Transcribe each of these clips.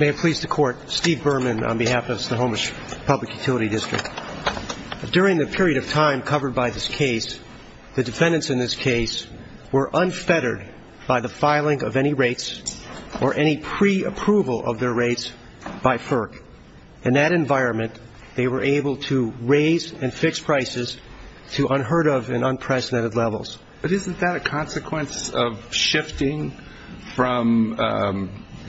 May it please the court, Steve Berman on behalf of the Snohomish Public Utility District. During the period of time covered by this case, the defendants in this case were unfettered by the filing of any rates or any pre-approval of their rates by FERC. In that environment, they were able to raise and fix prices to unheard of and unprecedented levels. But isn't that a consequence of shifting from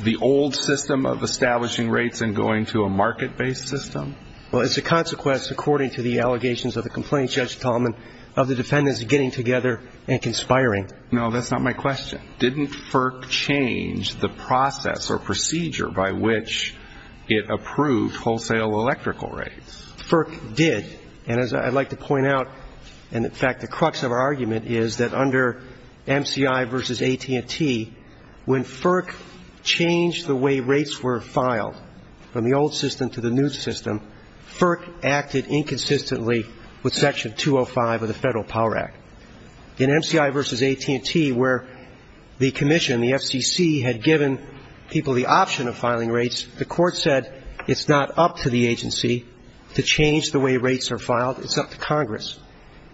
the old system of establishing rates and going to a market-based system? Well, it's a consequence, according to the allegations of the complaint, Judge Tallman, of the defendants getting together and conspiring. No, that's not my question. Didn't FERC change the process or procedure by which it approved wholesale electrical rates? FERC did. And as I'd like to point out, and, in fact, the crux of our argument is that under MCI v. AT&T, when FERC changed the way rates were filed from the old system to the new system, FERC acted inconsistently with Section 205 of the Federal Power Act. In MCI v. AT&T, where the commission, the FCC, had given people the option of filing rates, the Court said it's not up to the agency to change the way rates are filed. It's up to Congress.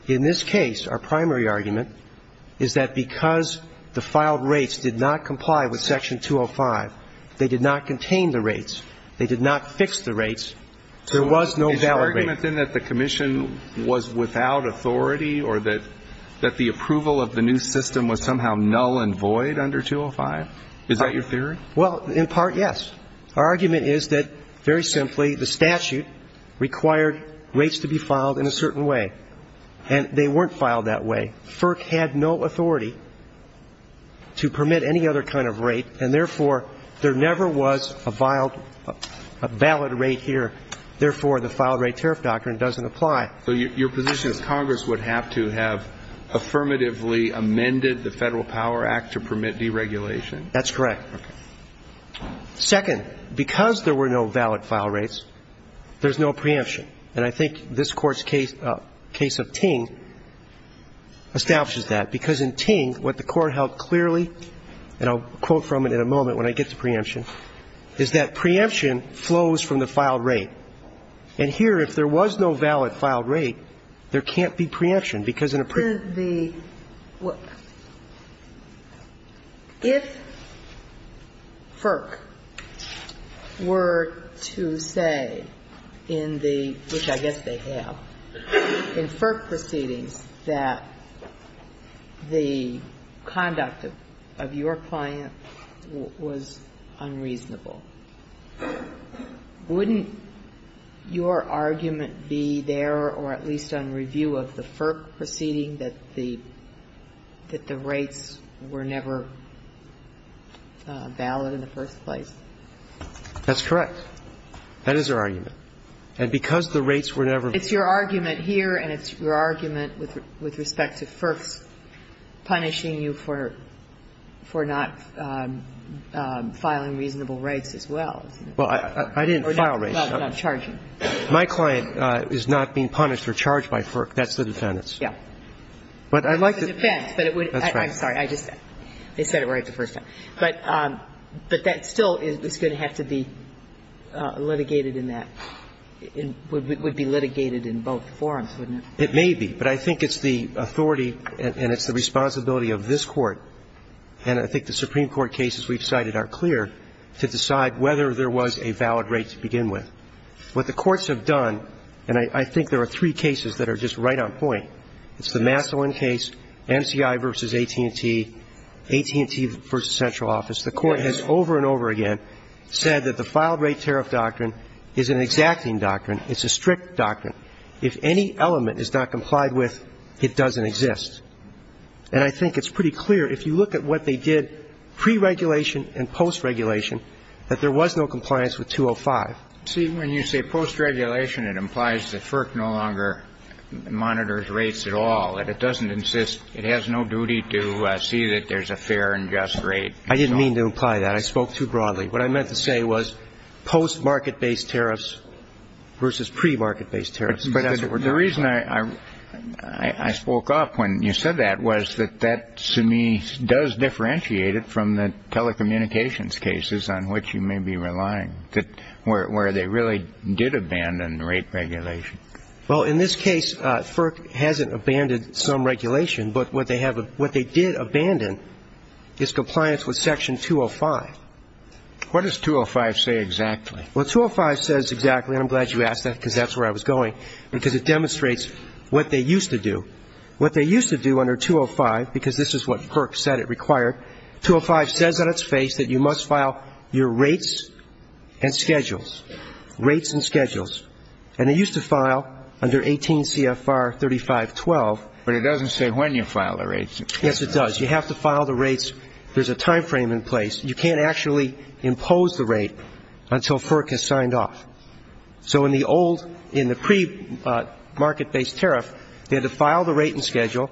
In this case, our primary argument is that because the filed rates did not comply with Section 205, they did not contain the rates, they did not fix the rates, there was no valid rate. Is your argument then that the commission was without authority or that the approval of the new system was somehow null and void under 205? Is that your theory? Well, in part, yes. Our argument is that, very simply, the statute required rates to be filed in a certain way. And they weren't filed that way. FERC had no authority to permit any other kind of rate, and, therefore, there never was a valid rate here. Therefore, the filed rate tariff doctrine doesn't apply. So your position is Congress would have to have affirmatively amended the Federal Power Act to permit deregulation? That's correct. Okay. Second, because there were no valid file rates, there's no preemption. And I think this Court's case of Ting establishes that. Because in Ting, what the Court held clearly, and I'll quote from it in a moment when I get to preemption, is that preemption flows from the filed rate. And here, if there was no valid filed rate, there can't be preemption, because in a preemption... If FERC were to say in the, which I guess they have, in FERC proceedings that the conduct of your client was unreasonable, wouldn't your argument be there, or at least on review of the FERC proceeding, that the rates were never valid in the first place? That's correct. That is our argument. And because the rates were never... It's your argument here, and it's your argument with respect to FERC punishing you for not filing reasonable rates as well. Well, I didn't file rates. Not charging. My client is not being punished or charged by FERC. That's the defendant's. Yeah. But I'd like to... It depends, but it would... That's right. I'm sorry. I just, they said it right the first time. But that still is going to have to be litigated in that, would be litigated in both forums, wouldn't it? It may be. But I think it's the authority and it's the responsibility of this Court and I think the Supreme Court cases we've cited are clear to decide whether there was a valid rate to begin with. What the courts have done, and I think there are three cases that are just right on point. It's the Massillon case, MCI v. AT&T, AT&T v. Central Office. The Court has over and over again said that the filed rate tariff doctrine is an exacting doctrine. It's a strict doctrine. If any element is not complied with, it doesn't exist. And I think it's pretty clear, if you look at what they did pre-regulation and post-regulation, that there was no compliance with 205. See, when you say post-regulation, it implies that FERC no longer monitors rates at all, that it doesn't insist, it has no duty to see that there's a fair and just rate. I didn't mean to imply that. I spoke too broadly. What I meant to say was post-market-based tariffs versus pre-market-based tariffs. But the reason I spoke up when you said that was that that, to me, does differentiate it from the telecommunications cases on which you may be relying, where they really did abandon rate regulation. Well, in this case, FERC hasn't abandoned some regulation. But what they did abandon is compliance with Section 205. What does 205 say exactly? Well, 205 says exactly, and I'm glad you asked that because that's where I was going, because it demonstrates what they used to do. They used to do under 205, because this is what FERC said it required. 205 says on its face that you must file your rates and schedules, rates and schedules. And they used to file under 18 CFR 3512. But it doesn't say when you file the rates. Yes, it does. You have to file the rates. There's a time frame in place. You can't actually impose the rate until FERC has signed off. So in the old, in the pre-market-based tariff, they had to file the rate and schedule,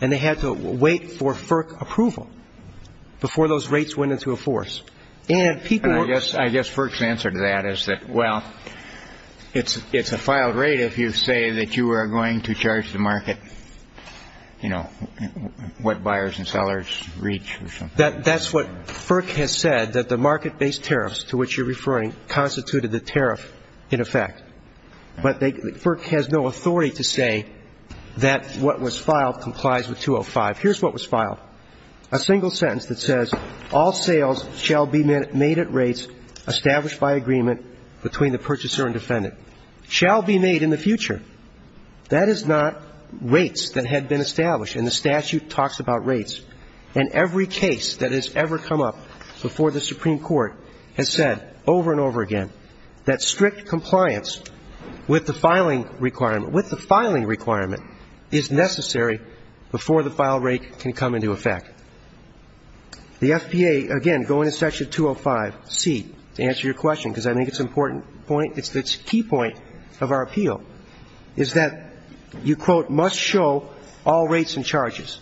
and they had to wait for FERC approval before those rates went into a force. And people were – I guess FERC's answer to that is that, well, it's a filed rate if you say that you are going to charge the market, you know, what buyers and sellers reach or something. That's what FERC has said, that the market-based tariffs to which you're referring constituted the tariff in effect. But FERC has no authority to say that what was filed complies with 205. Here's what was filed, a single sentence that says, all sales shall be made at rates established by agreement between the purchaser and defendant. Shall be made in the future. That is not rates that had been established, and the statute talks about rates. And every case that has ever come up before the Supreme Court has said over and over again that strict compliance with the filing requirement, with the filing requirement, is necessary before the file rate can come into effect. The FPA, again, going to Section 205C to answer your question, because I think it's an important point, it's the key point of our appeal, is that you, quote, must show all rates and charges.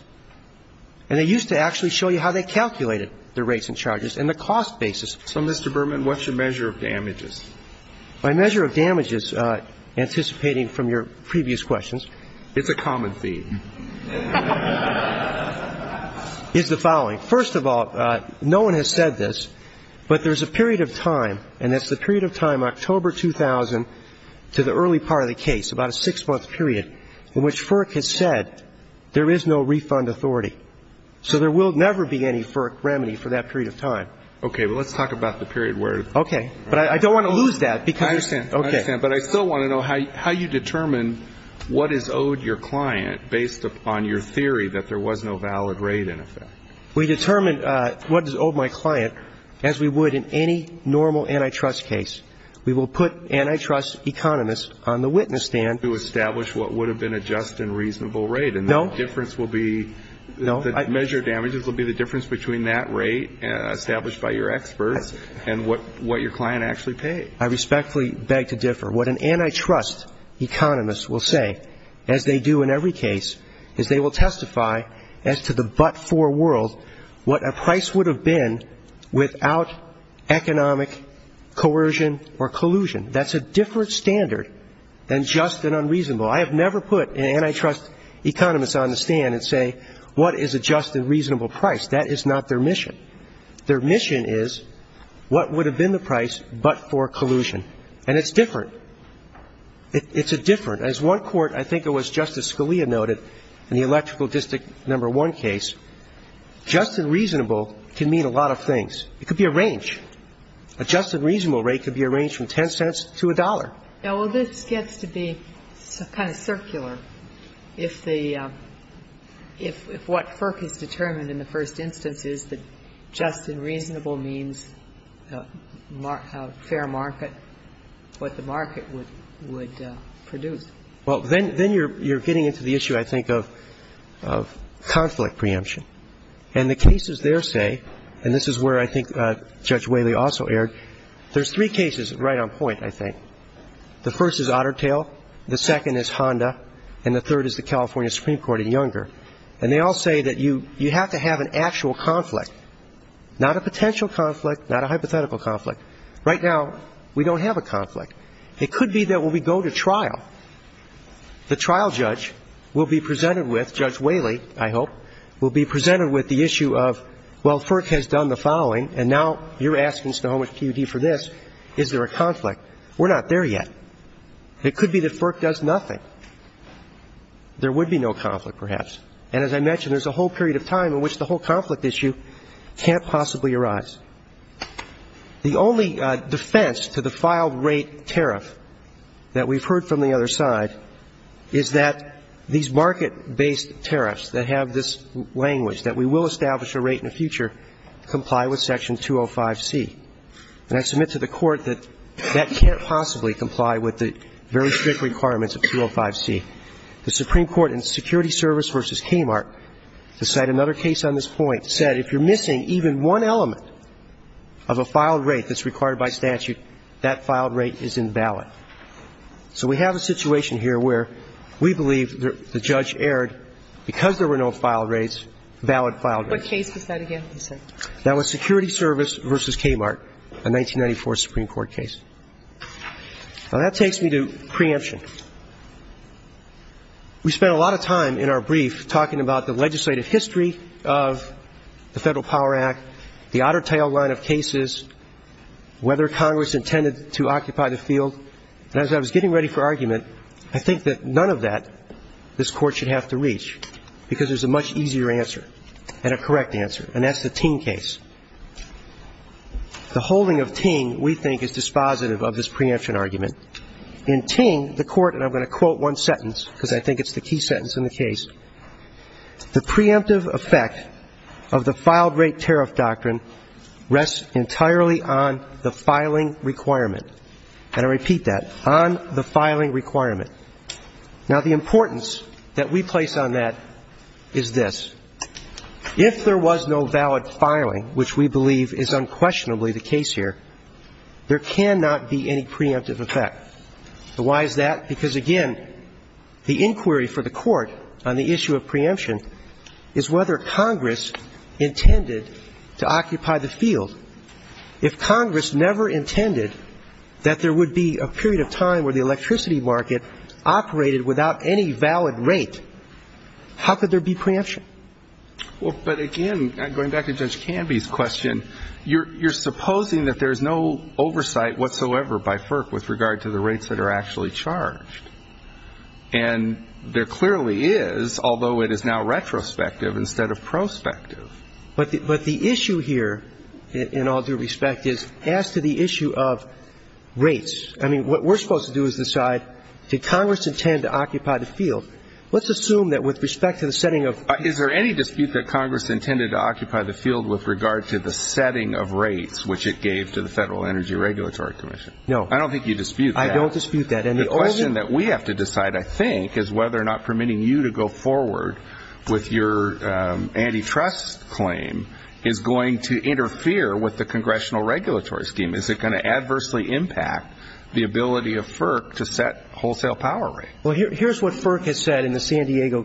And they used to actually show you how they calculated the rates and charges and the cost basis. So, Mr. Berman, what's your measure of damages? My measure of damages, anticipating from your previous questions. It's a common theme. It's the following. First of all, no one has said this, but there's a period of time, and that's the period of time October 2000 to the early part of the case, about a six-month period, in which FERC has said there is no refund authority. So there will never be any FERC remedy for that period of time. Okay. Well, let's talk about the period where it occurs. Okay. But I don't want to lose that. I understand. I understand. But I still want to know how you determine what is owed your client based upon your theory that there was no valid rate in effect. We determined what is owed my client as we would in any normal antitrust case. We will put antitrust economists on the witness stand. To establish what would have been a just and reasonable rate. No. And the difference will be, the measure of damages will be the difference between that rate established by your experts and what your client actually paid. I respectfully beg to differ. What an antitrust economist will say, as they do in every case, is they will testify as to the but-for world what a price would have been without economic coercion or collusion. That's a different standard than just and unreasonable. I have never put antitrust economists on the stand and say what is a just and reasonable price. That is not their mission. Their mission is what would have been the price but for collusion. And it's different. It's different. As one court, I think it was Justice Scalia noted in the Electrical District No. 1 case, just and reasonable can mean a lot of things. It could be a range. A just and reasonable rate could be a range from $0.10 to $1. Well, this gets to be kind of circular. If what FERC has determined in the first instance is that just and reasonable means fair market, what the market would produce. Well, then you're getting into the issue, I think, of conflict preemption. And the cases there say, and this is where I think Judge Whaley also erred, there's three cases right on point, I think. The first is Otter Tail. The second is Honda. And the third is the California Supreme Court in Younger. And they all say that you have to have an actual conflict, not a potential conflict, not a hypothetical conflict. Right now, we don't have a conflict. It could be that when we go to trial, the trial judge will be presented with, Judge Whaley, I hope, will be presented with the issue of, well, FERC has done the following, and now you're asking Snohomish PUD for this, is there a conflict? We're not there yet. It could be that FERC does nothing. There would be no conflict, perhaps. And as I mentioned, there's a whole period of time in which the whole conflict issue can't possibly arise. The only defense to the filed rate tariff that we've heard from the other side is that these market-based tariffs that have this language, that we will establish a rate in the future, comply with Section 205C. And I submit to the Court that that can't possibly comply with the very strict requirements of 205C. The Supreme Court in Security Service v. Kmart, to cite another case on this point, said if you're missing even one element of a filed rate that's required by statute, that filed rate is invalid. So we have a situation here where we believe the judge erred because there were no filed rates, valid filed rates. What case was that again? That was Security Service v. Kmart, a 1994 Supreme Court case. Now, that takes me to preemption. We spent a lot of time in our brief talking about the legislative history of the Federal Power Act, the otter tail line of cases, whether Congress intended to occupy the field. And as I was getting ready for argument, I think that none of that this Court should have to reach, because there's a much easier answer and a correct answer, and that's the Ting case. The holding of Ting, we think, is dispositive of this preemption argument. In Ting, the Court, and I'm going to quote one sentence because I think it's the key sentence in the case, the preemptive effect of the filed rate tariff doctrine rests entirely on the filing requirement. And I repeat that, on the filing requirement. Now, the importance that we place on that is this. If there was no valid filing, which we believe is unquestionably the case here, there cannot be any preemptive effect. So why is that? Because, again, the inquiry for the Court on the issue of preemption is whether Congress intended to occupy the field. If Congress never intended that there would be a period of time where the electricity market operated without any valid rate, how could there be preemption? Well, but again, going back to Judge Canby's question, you're supposing that there's no oversight whatsoever by FERC with regard to the rates that are actually charged. And there clearly is, although it is now retrospective instead of prospective. But the issue here, in all due respect, is as to the issue of rates, I mean, what we're supposed to do is decide, did Congress intend to occupy the field? Let's assume that with respect to the setting of rates. Is there any dispute that Congress intended to occupy the field with regard to the setting of rates, which it gave to the Federal Energy Regulatory Commission? No. I don't think you dispute that. I don't dispute that. The question that we have to decide, I think, is whether or not permitting you to go forward with your antitrust claim is going to interfere with the congressional regulatory scheme. Is it going to adversely impact the ability of FERC to set wholesale power rates? Well, here's what FERC has said in the San Diego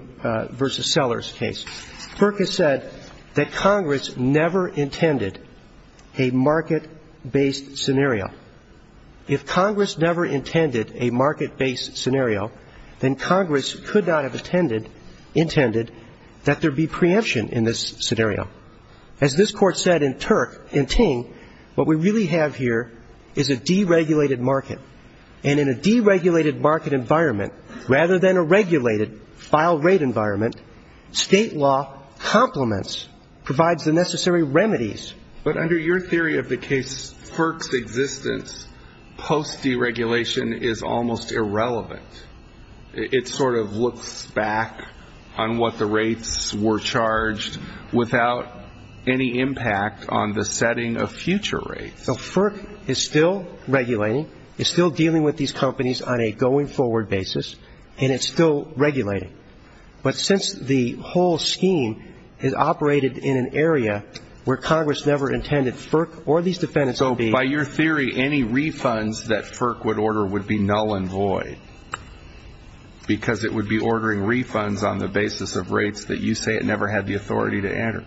v. Sellers case. FERC has said that Congress never intended a market-based scenario. If Congress never intended a market-based scenario, then Congress could not have intended that there be preemption in this scenario. As this Court said in Ting, what we really have here is a deregulated market. And in a deregulated market environment, rather than a regulated file rate environment, state law complements, provides the necessary remedies. But under your theory of the case, FERC's existence post-deregulation is almost irrelevant. It sort of looks back on what the rates were charged without any impact on the setting of future rates. So FERC is still regulating, is still dealing with these companies on a going-forward basis, and it's still regulating. But since the whole scheme is operated in an area where Congress never intended FERC or these defendants to be ---- So by your theory, any refunds that FERC would order would be null and void, because it would be ordering refunds on the basis of rates that you say it never had the authority to enter.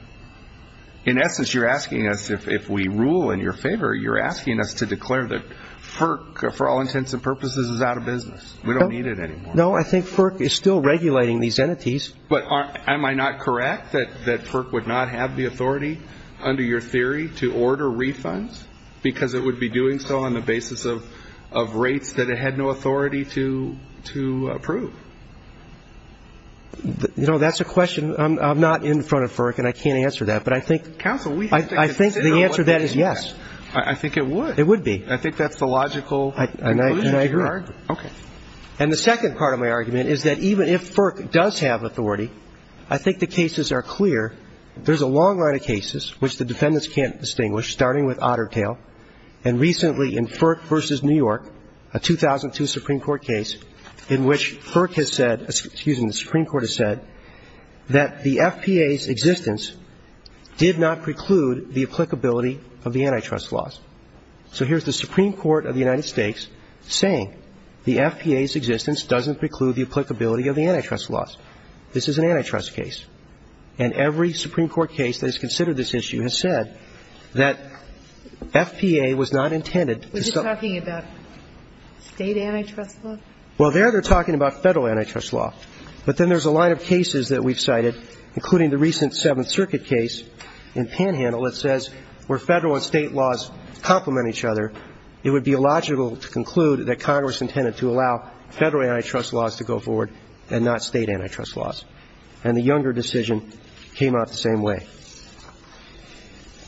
In essence, you're asking us, if we rule in your favor, you're asking us to declare that FERC, for all intents and purposes, is out of business. We don't need it anymore. No, I think FERC is still regulating these entities. But am I not correct that FERC would not have the authority, under your theory, to order refunds? Because it would be doing so on the basis of rates that it had no authority to approve. You know, that's a question I'm not in front of FERC, and I can't answer that. But I think the answer to that is yes. I think it would. It would be. I think that's the logical conclusion to your argument. And I agree. Okay. And the second part of my argument is that even if FERC does have authority, I think the cases are clear. There's a long line of cases which the defendants can't distinguish, starting with Otter Tail, and recently in FERC v. New York, a 2002 Supreme Court case in which FERC has said, excuse me, the Supreme Court has said that the FPA's existence did not preclude the applicability of the antitrust laws. So here's the Supreme Court of the United States saying the FPA's existence doesn't preclude the applicability of the antitrust laws. This is an antitrust case. And every Supreme Court case that has considered this issue has said that FPA was not intended to ---- Are you talking about state antitrust law? Well, there they're talking about federal antitrust law. But then there's a line of cases that we've cited, including the recent Seventh Circuit case in Panhandle, that says where federal and state laws complement each other, it would be illogical to conclude that Congress intended to allow federal antitrust laws to go forward and not state antitrust laws. And the Younger decision came out the same way.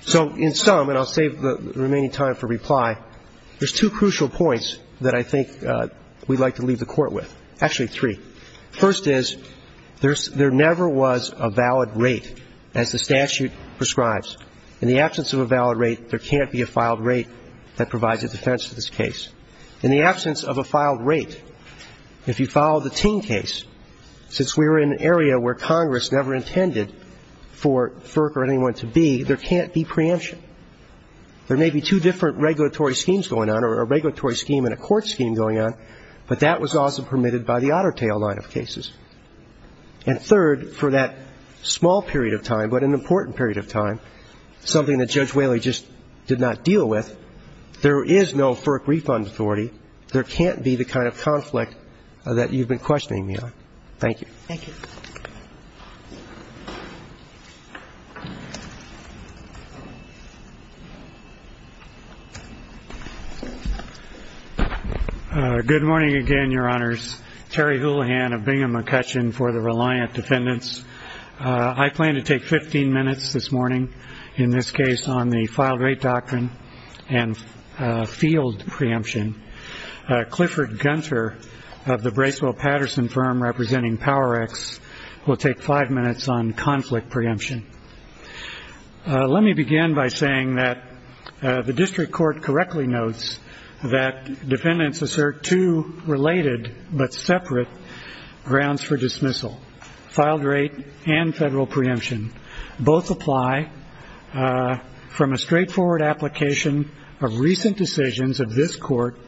So in sum, and I'll save the remaining time for reply, there's two crucial points that I think we'd like to leave the Court with. Actually, three. First is there never was a valid rate as the statute prescribes. In the absence of a valid rate, there can't be a filed rate that provides a defense for this case. In the absence of a filed rate, if you file the Ting case, since we're in an area where Congress never intended for FERC or anyone to be, there can't be preemption. There may be two different regulatory schemes going on, or a regulatory scheme and a court scheme going on, but that was also permitted by the Otter Tail line of cases. And third, for that small period of time, but an important period of time, something that Judge Whaley just did not deal with, there is no FERC refund authority. There can't be the kind of conflict that you've been questioning me on. Thank you. Thank you. Good morning again, Your Honors. Terry Houlihan of Bingham & Kutchin for the Reliant Defendants. I plan to take 15 minutes this morning in this case on the filed rate doctrine and field preemption. Clifford Gunther of the Bracewell Patterson firm representing Power X will take five minutes on conflict preemption. Let me begin by saying that the district court correctly notes that defendants assert two related but separate grounds for dismissal. Filed rate and federal preemption both apply from a straightforward application of recent decisions of this court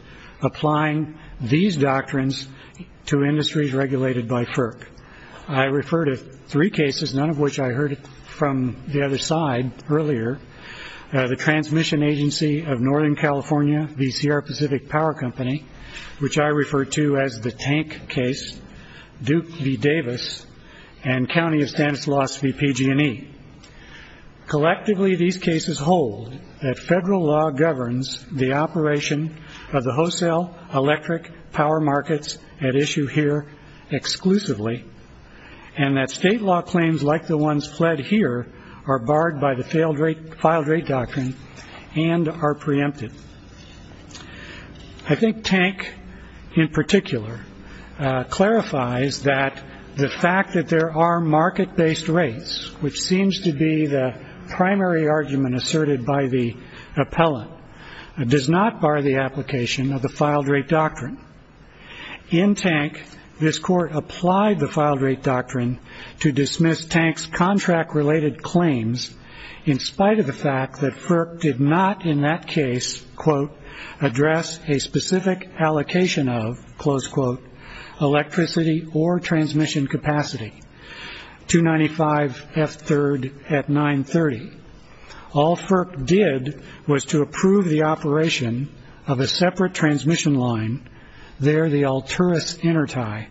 applying these doctrines to industries regulated by FERC. I refer to three cases, none of which I heard from the other side earlier. The Transmission Agency of Northern California v. Sierra Pacific Power Company, which I refer to as the tank case, Duke v. Davis, and County of Stanislaus v. PG&E. Collectively, these cases hold that federal law governs the operation of the wholesale electric power markets at issue here exclusively and that state law claims like the ones fled here are barred by the filed rate doctrine and are preempted. I think Tank, in particular, clarifies that the fact that there are market-based rates, which seems to be the primary argument asserted by the appellant, does not bar the application of the filed rate doctrine. In Tank, this court applied the filed rate doctrine to dismiss Tank's contract-related claims in spite of the fact that FERC did not, in that case, quote, address a specific allocation of, close quote, electricity or transmission capacity, 295F3 at 930. All FERC did was to approve the operation of a separate transmission line, there the Alturas Intertie,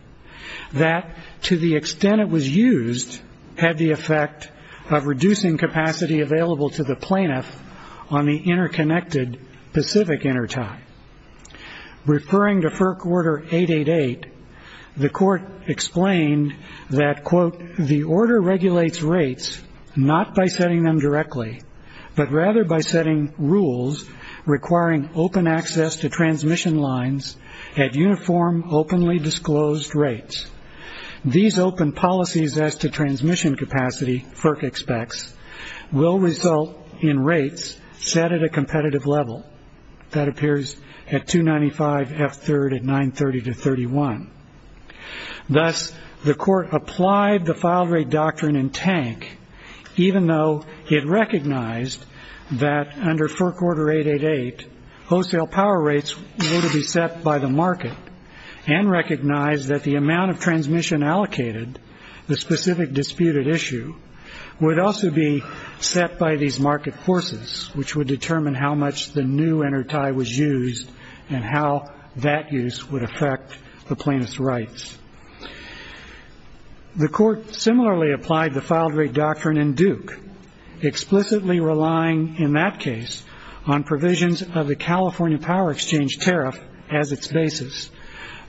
that, to the extent it was used, had the effect of reducing capacity available to the plaintiff on the interconnected Pacific Intertie. Referring to FERC Order 888, the court explained that, quote, the order regulates rates not by setting them directly but rather by setting rules requiring open access to transmission lines at uniform, openly disclosed rates. These open policies as to transmission capacity, FERC expects, will result in rates set at a competitive level. That appears at 295F3 at 930 to 31. Thus, the court applied the filed rate doctrine in Tank, even though it recognized that, under FERC Order 888, wholesale power rates were to be set by the market and recognized that the amount of transmission allocated, the specific disputed issue, would also be set by these market forces, which would determine how much the new intertie was used and how that use would affect the plaintiff's rights. The court similarly applied the filed rate doctrine in Duke, explicitly relying, in that case, on provisions of the California Power Exchange tariff as its basis.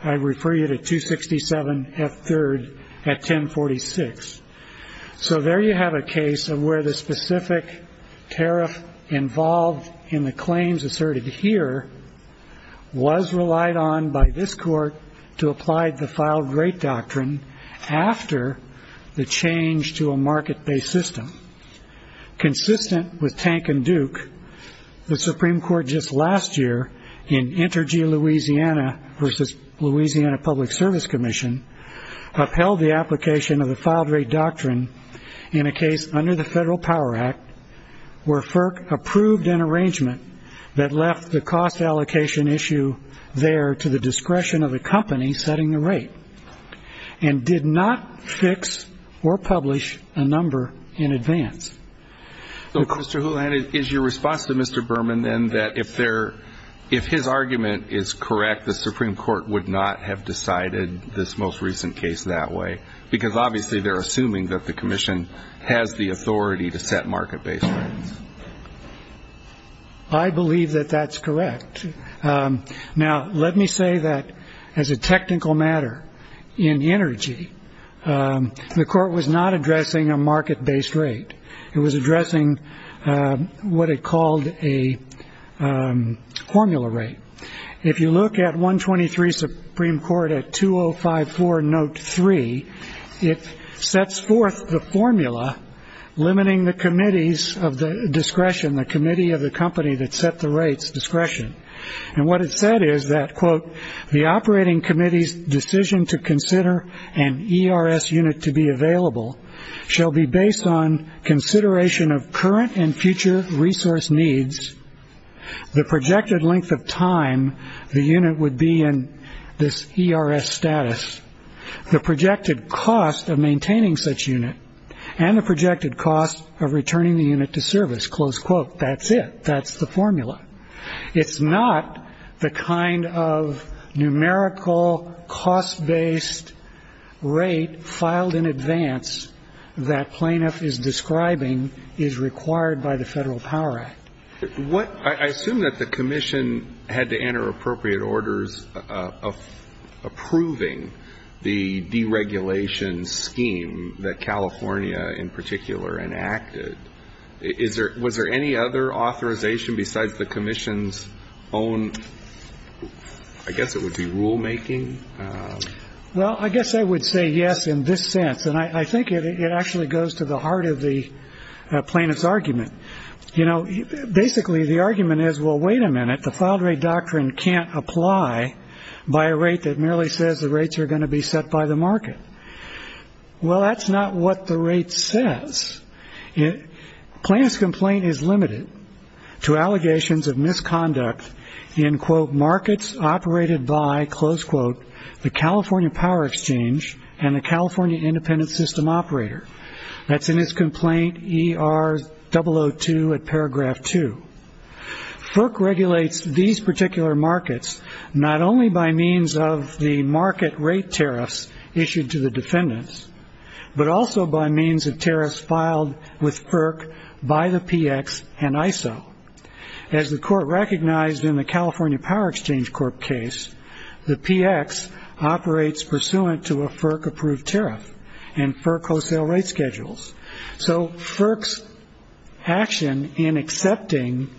I refer you to 267F3 at 1046. So there you have a case of where the specific tariff involved in the claims asserted here was relied on by this court to apply the filed rate doctrine after the change to a market-based system. Consistent with Tank and Duke, the Supreme Court just last year, in Intergee, Louisiana, versus Louisiana Public Service Commission, upheld the application of the filed rate doctrine in a case under the Federal Power Act where FERC approved an arrangement that left the cost allocation issue there to the discretion of the company setting the rate and did not fix or publish a number in advance. Mr. Houlihan, is your response to Mr. Berman then that if his argument is correct, the Supreme Court would not have decided this most recent case that way? Because obviously they're assuming that the commission has the authority to set market-based rates. I believe that that's correct. Now, let me say that as a technical matter, in Intergee, the court was not addressing a market-based rate. It was addressing what it called a formula rate. If you look at 123 Supreme Court at 2054 note 3, it sets forth the formula limiting the committees of the discretion, the committee of the company that set the rates discretion. And what it said is that, quote, the operating committee's decision to consider an ERS unit to be available shall be based on consideration of current and future resource needs, the projected length of time the unit would be in this ERS status, the projected cost of maintaining such unit, and the projected cost of returning the unit to service. Close quote. That's it. That's the formula. It's not the kind of numerical cost-based rate filed in advance that plaintiff is describing is required by the Federal Power Act. I assume that the commission had to enter appropriate orders of approving the deregulation scheme that California in particular enacted. Was there any other authorization besides the commission's own? I guess it would be rulemaking. Well, I guess I would say yes in this sense. And I think it actually goes to the heart of the plaintiff's argument. You know, basically the argument is, well, wait a minute. The filed rate doctrine can't apply by a rate that merely says the rates are going to be set by the market. Well, that's not what the rate says. Plaintiff's complaint is limited to allegations of misconduct in, quote, by, close quote, the California Power Exchange and the California Independent System Operator. That's in his complaint ER002 at paragraph 2. FERC regulates these particular markets not only by means of the market rate tariffs issued to the defendants, but also by means of tariffs filed with FERC by the PX and ISO. As the court recognized in the California Power Exchange Court case, the PX operates pursuant to a FERC-approved tariff and FERC wholesale rate schedules. So FERC's action in accepting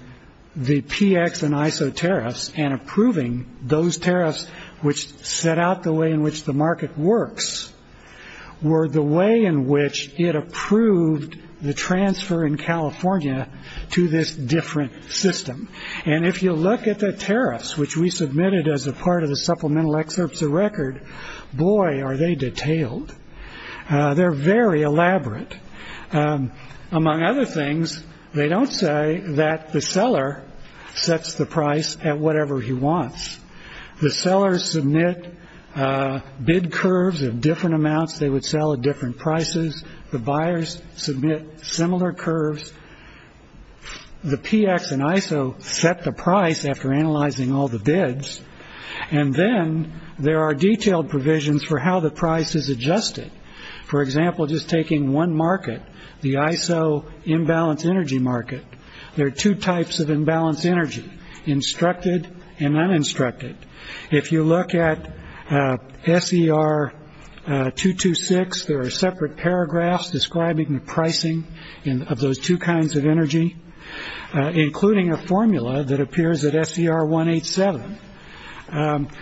the PX and ISO tariffs and approving those tariffs which set out the way in which the market works were the way in which it approved the transfer in California to this different system. And if you look at the tariffs which we submitted as a part of the supplemental excerpts of record, boy, are they detailed. They're very elaborate. Among other things, they don't say that the seller sets the price at whatever he wants. The sellers submit bid curves of different amounts they would sell at different prices. The buyers submit similar curves. The PX and ISO set the price after analyzing all the bids. And then there are detailed provisions for how the price is adjusted. For example, just taking one market, the ISO imbalance energy market, there are two types of imbalance energy, instructed and uninstructed. If you look at SER 226, there are separate paragraphs describing the pricing of those two kinds of energy, including a formula that appears at SER 187.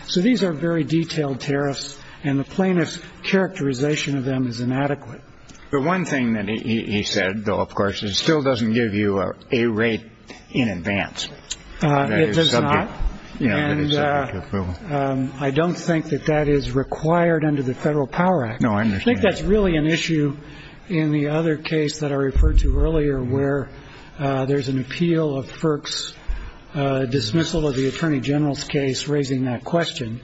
So these are very detailed tariffs, and the plaintiff's characterization of them is inadequate. The one thing that he said, though, of course, is it still doesn't give you a rate in advance. It does not. And I don't think that that is required under the Federal Power Act. No, I understand. I think that's really an issue in the other case that I referred to earlier, where there's an appeal of FERC's dismissal of the attorney general's case raising that question.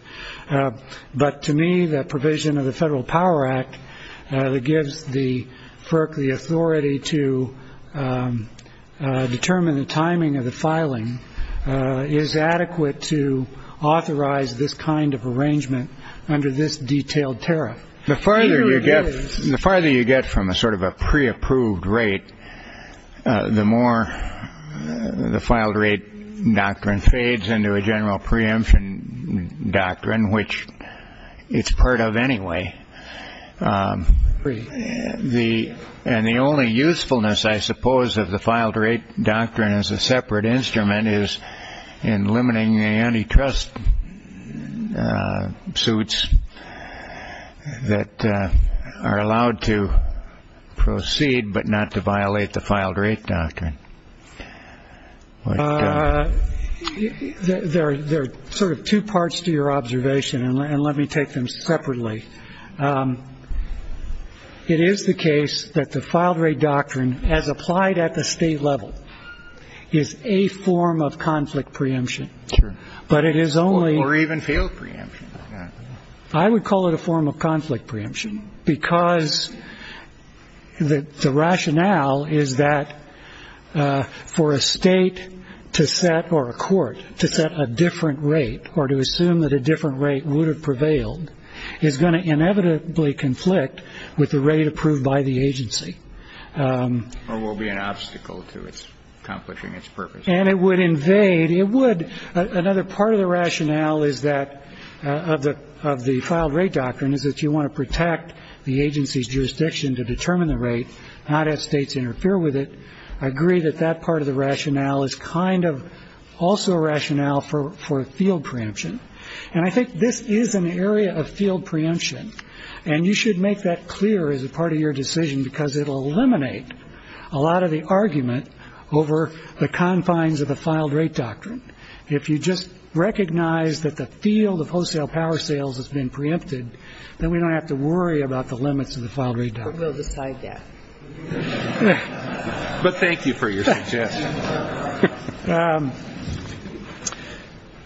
But to me, the provision of the Federal Power Act that gives the FERC the authority to determine the timing of the filing is adequate to authorize this kind of arrangement under this detailed tariff. The farther you get from a sort of a pre-approved rate, the more the file-to-rate doctrine fades into a general preemption doctrine, which it's part of anyway. And the only usefulness, I suppose, of the file-to-rate doctrine as a separate instrument is in limiting the antitrust suits that are allowed to proceed but not to violate the file-to-rate doctrine. There are sort of two parts to your observation, and let me take them separately. It is the case that the file-to-rate doctrine, as applied at the state level, is a form of conflict preemption. But it is only- Or even failed preemption. I would call it a form of conflict preemption, because the rationale is that for a state to set or a court to set a different rate or to assume that a different rate would have prevailed is going to inevitably conflict with the rate approved by the agency. Or will be an obstacle to its accomplishing its purpose. And it would invade-it would-another part of the rationale is that-of the file-to-rate doctrine is that you want to protect the agency's jurisdiction to determine the rate, not have states interfere with it. I agree that that part of the rationale is kind of also a rationale for field preemption. And I think this is an area of field preemption. And you should make that clear as a part of your decision because it will eliminate a lot of the argument over the confines of the file-to-rate doctrine. If you just recognize that the field of wholesale power sales has been preempted, then we don't have to worry about the limits of the file-to-rate doctrine. But we'll decide that. But thank you for your suggestion.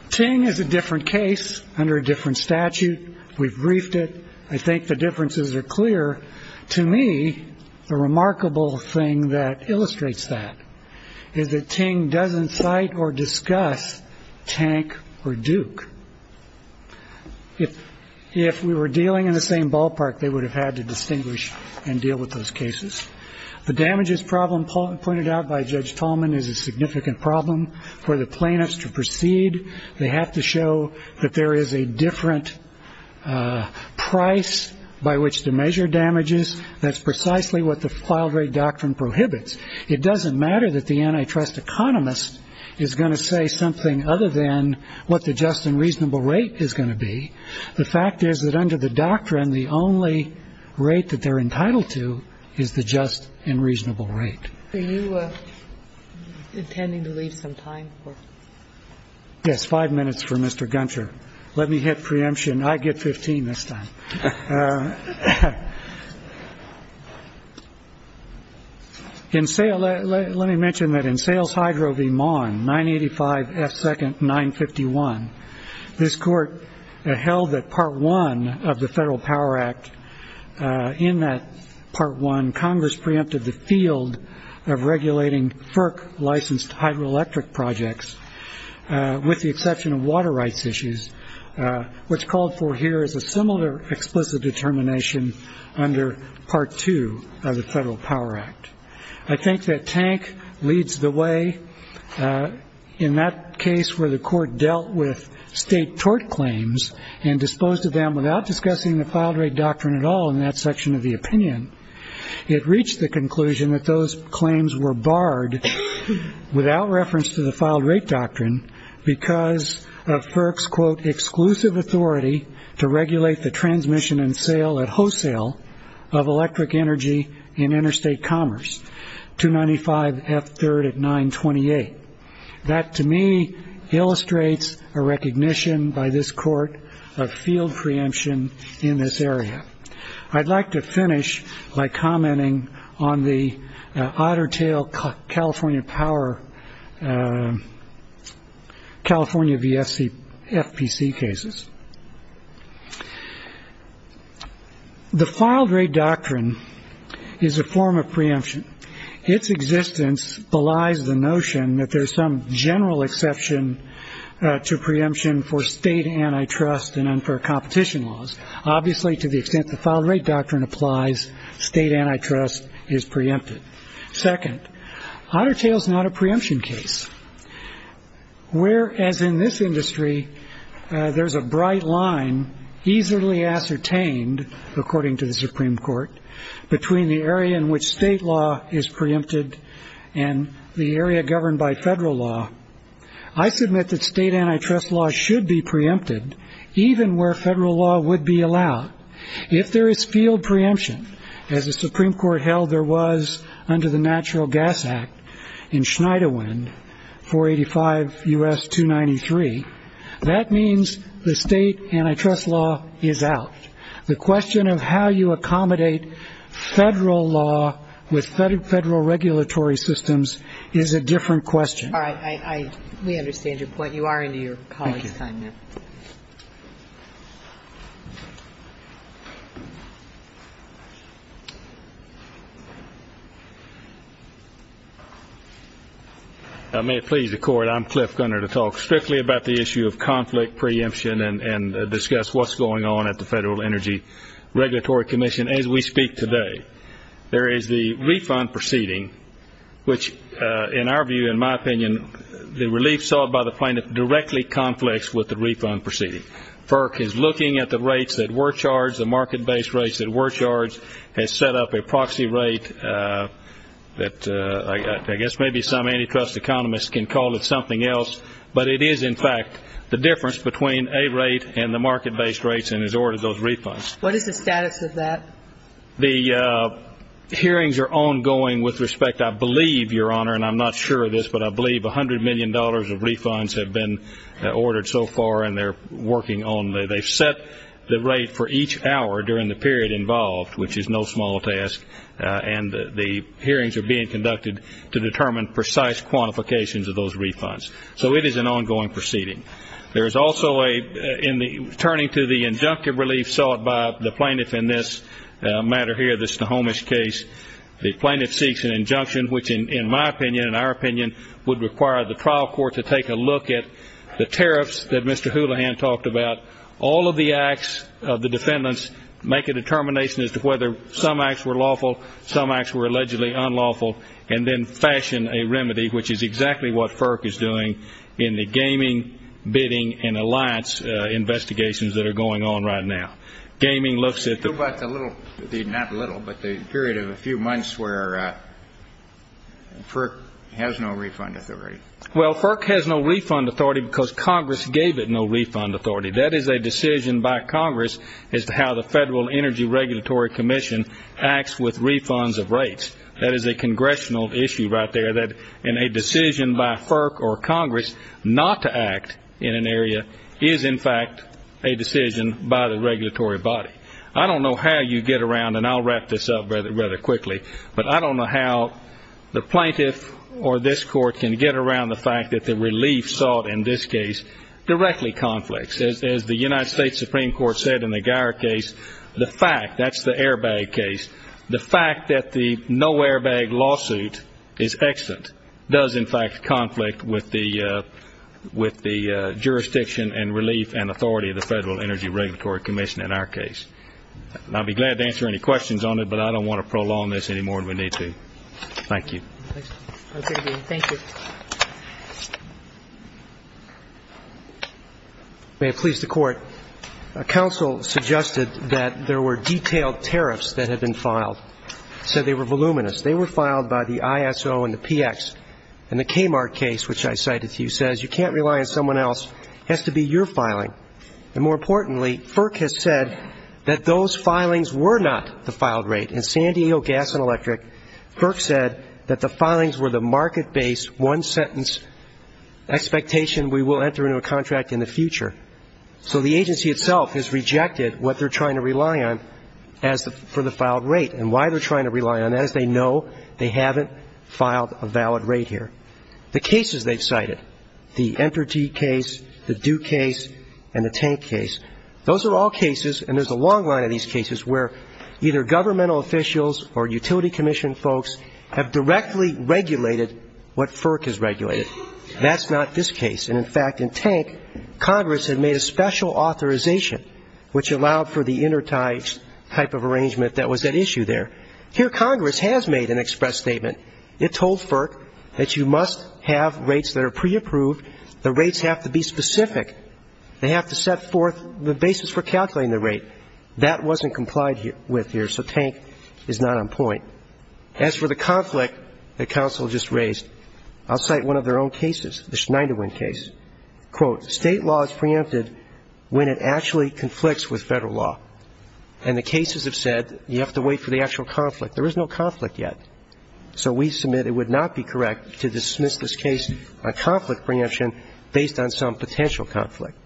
Ting is a different case under a different statute. We've briefed it. I think the differences are clear. To me, the remarkable thing that illustrates that is that Ting doesn't cite or discuss Tank or Duke. If we were dealing in the same ballpark, they would have had to distinguish and deal with those cases. The damages problem pointed out by Judge Tolman is a significant problem for the plaintiffs to proceed. They have to show that there is a different price by which to measure damages. That's precisely what the file-to-rate doctrine prohibits. It doesn't matter that the antitrust economist is going to say something other than what the just and reasonable rate is going to be. The fact is that under the doctrine, the only rate that they're entitled to is the just and reasonable rate. Are you intending to leave some time? Yes, five minutes for Mr. Gunter. Let me hit preemption. I get 15 this time. Let me mention that in Sales Hydro v. Maughan, 985 F. 2nd, 951, this court held that Part I of the Federal Power Act, in that Part I, Congress preempted the field of regulating FERC-licensed hydroelectric projects, with the exception of water rights issues. What's called for here is a similar explicit determination under Part II of the Federal Power Act. I think that Tank leads the way. In that case where the court dealt with state tort claims and disposed of them without discussing the file-to-rate doctrine at all in that section of the opinion, it reached the conclusion that those claims were barred without reference to the file-to-rate doctrine because of FERC's, quote, exclusive authority to regulate the transmission and sale at wholesale of electric energy in interstate commerce, 295 F. 3rd at 928. That, to me, illustrates a recognition by this court of field preemption in this area. I'd like to finish by commenting on the otter tail California power, California VFC, FPC cases. The file-to-rate doctrine is a form of preemption. Its existence belies the notion that there's some general exception to preemption for state antitrust and unfair competition laws, obviously to the extent the file-to-rate doctrine applies, state antitrust is preempted. Second, otter tail's not a preemption case. Whereas in this industry there's a bright line easily ascertained, according to the Supreme Court, between the area in which state law is preempted and the area governed by federal law, I submit that state antitrust law should be preempted even where federal law would be allowed. If there is field preemption, as the Supreme Court held there was under the Natural Gas Act in Schneiderwind 485 U.S. 293, that means the state antitrust law is out. The question of how you accommodate federal law with federal regulatory systems is a different question. All right. We understand your point. You are into your colleague's time now. May it please the Court, I'm Cliff Gunter, to talk strictly about the issue of conflict preemption and discuss what's going on at the Federal Energy Regulatory Commission as we speak today. There is the refund proceeding, which in our view, in my opinion, the relief sought by the plaintiff directly conflicts with the refund proceeding. FERC is looking at the rates that were charged, the market-based rates that were charged, has set up a proxy rate that I guess maybe some antitrust economists can call it something else, but it is in fact the difference between a rate and the market-based rates and has ordered those refunds. What is the status of that? The hearings are ongoing with respect. I believe, Your Honor, and I'm not sure of this, but I believe $100 million of refunds have been ordered so far and they're working on it. They've set the rate for each hour during the period involved, which is no small task, and the hearings are being conducted to determine precise quantifications of those refunds. So it is an ongoing proceeding. There is also a turning to the injunctive relief sought by the plaintiff in this matter here, the Snohomish case. The plaintiff seeks an injunction, which in my opinion, in our opinion, would require the trial court to take a look at the tariffs that Mr. Houlihan talked about. All of the acts of the defendants make a determination as to whether some acts were lawful, some acts were allegedly unlawful, and then fashion a remedy, which is exactly what FERC is doing in the gaming, bidding, and alliance investigations that are going on right now. Gaming looks at the period of a few months where FERC has no refund authority. Well, FERC has no refund authority because Congress gave it no refund authority. That is a decision by Congress as to how the Federal Energy Regulatory Commission acts with refunds of rates. That is a congressional issue right there. And a decision by FERC or Congress not to act in an area is, in fact, a decision by the regulatory body. I don't know how you get around, and I'll wrap this up rather quickly, but I don't know how the plaintiff or this court can get around the fact that the relief sought in this case directly conflicts. As the United States Supreme Court said in the Geier case, the fact, that's the airbag case, the fact that the no airbag lawsuit is extant does, in fact, conflict with the jurisdiction and relief and authority of the Federal Energy Regulatory Commission in our case. And I'll be glad to answer any questions on it, but I don't want to prolong this any more than we need to. Thank you. Thank you. May it please the Court. Counsel suggested that there were detailed tariffs that had been filed. He said they were voluminous. They were filed by the ISO and the PX. And the Kmart case, which I cited to you, says you can't rely on someone else. It has to be your filing. And more importantly, FERC has said that those filings were not the filed rate. In San Diego Gas and Electric, FERC said that the filings were the market-based one-sentence expectation, we will enter into a contract in the future. So the agency itself has rejected what they're trying to rely on for the filed rate and why they're trying to rely on that is they know they haven't filed a valid rate here. The cases they've cited, the Entergy case, the Duke case, and the Tank case, those are all cases, and there's a long line of these cases where either governmental officials or utility commission folks have directly regulated what FERC has regulated. That's not this case. And, in fact, in Tank, Congress had made a special authorization, which allowed for the intertie type of arrangement that was at issue there. Here Congress has made an express statement. It told FERC that you must have rates that are pre-approved. The rates have to be specific. They have to set forth the basis for calculating the rate. That wasn't complied with here, so Tank is not on point. As for the conflict that counsel just raised, I'll cite one of their own cases, the Schneiderwin case. Quote, State law is preempted when it actually conflicts with Federal law, and the cases have said you have to wait for the actual conflict. There is no conflict yet, so we submit it would not be correct to dismiss this case on conflict preemption based on some potential conflict.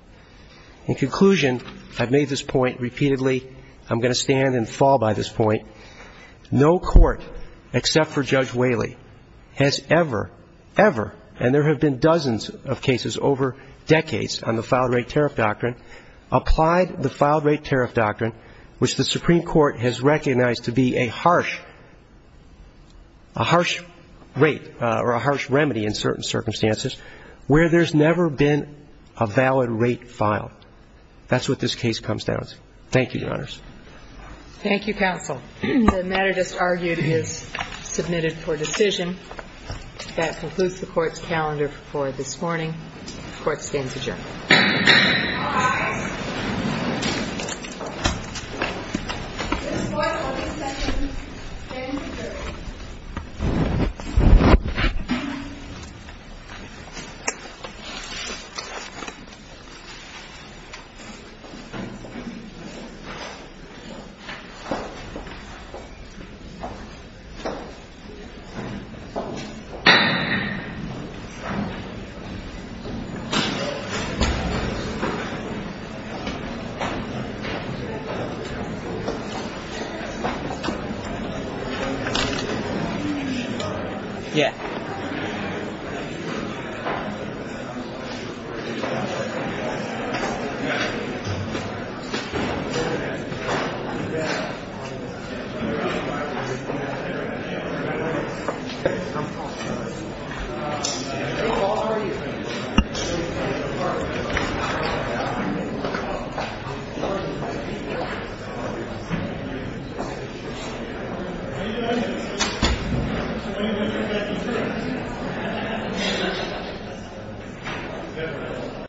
In conclusion, I've made this point repeatedly. I'm going to stand and fall by this point. No court, except for Judge Whaley, has ever, ever, and there have been dozens of cases over decades on the filed rate tariff doctrine, applied the filed rate tariff doctrine, which the Supreme Court has recognized to be a harsh rate or a harsh remedy in certain circumstances, where there's never been a valid rate filed. Thank you, Your Honors. Thank you, counsel. The matter just argued is submitted for decision. That concludes the court's calendar for this morning. Court stands adjourned. All rise. This court will be set in ten minutes. Yeah. Thank you.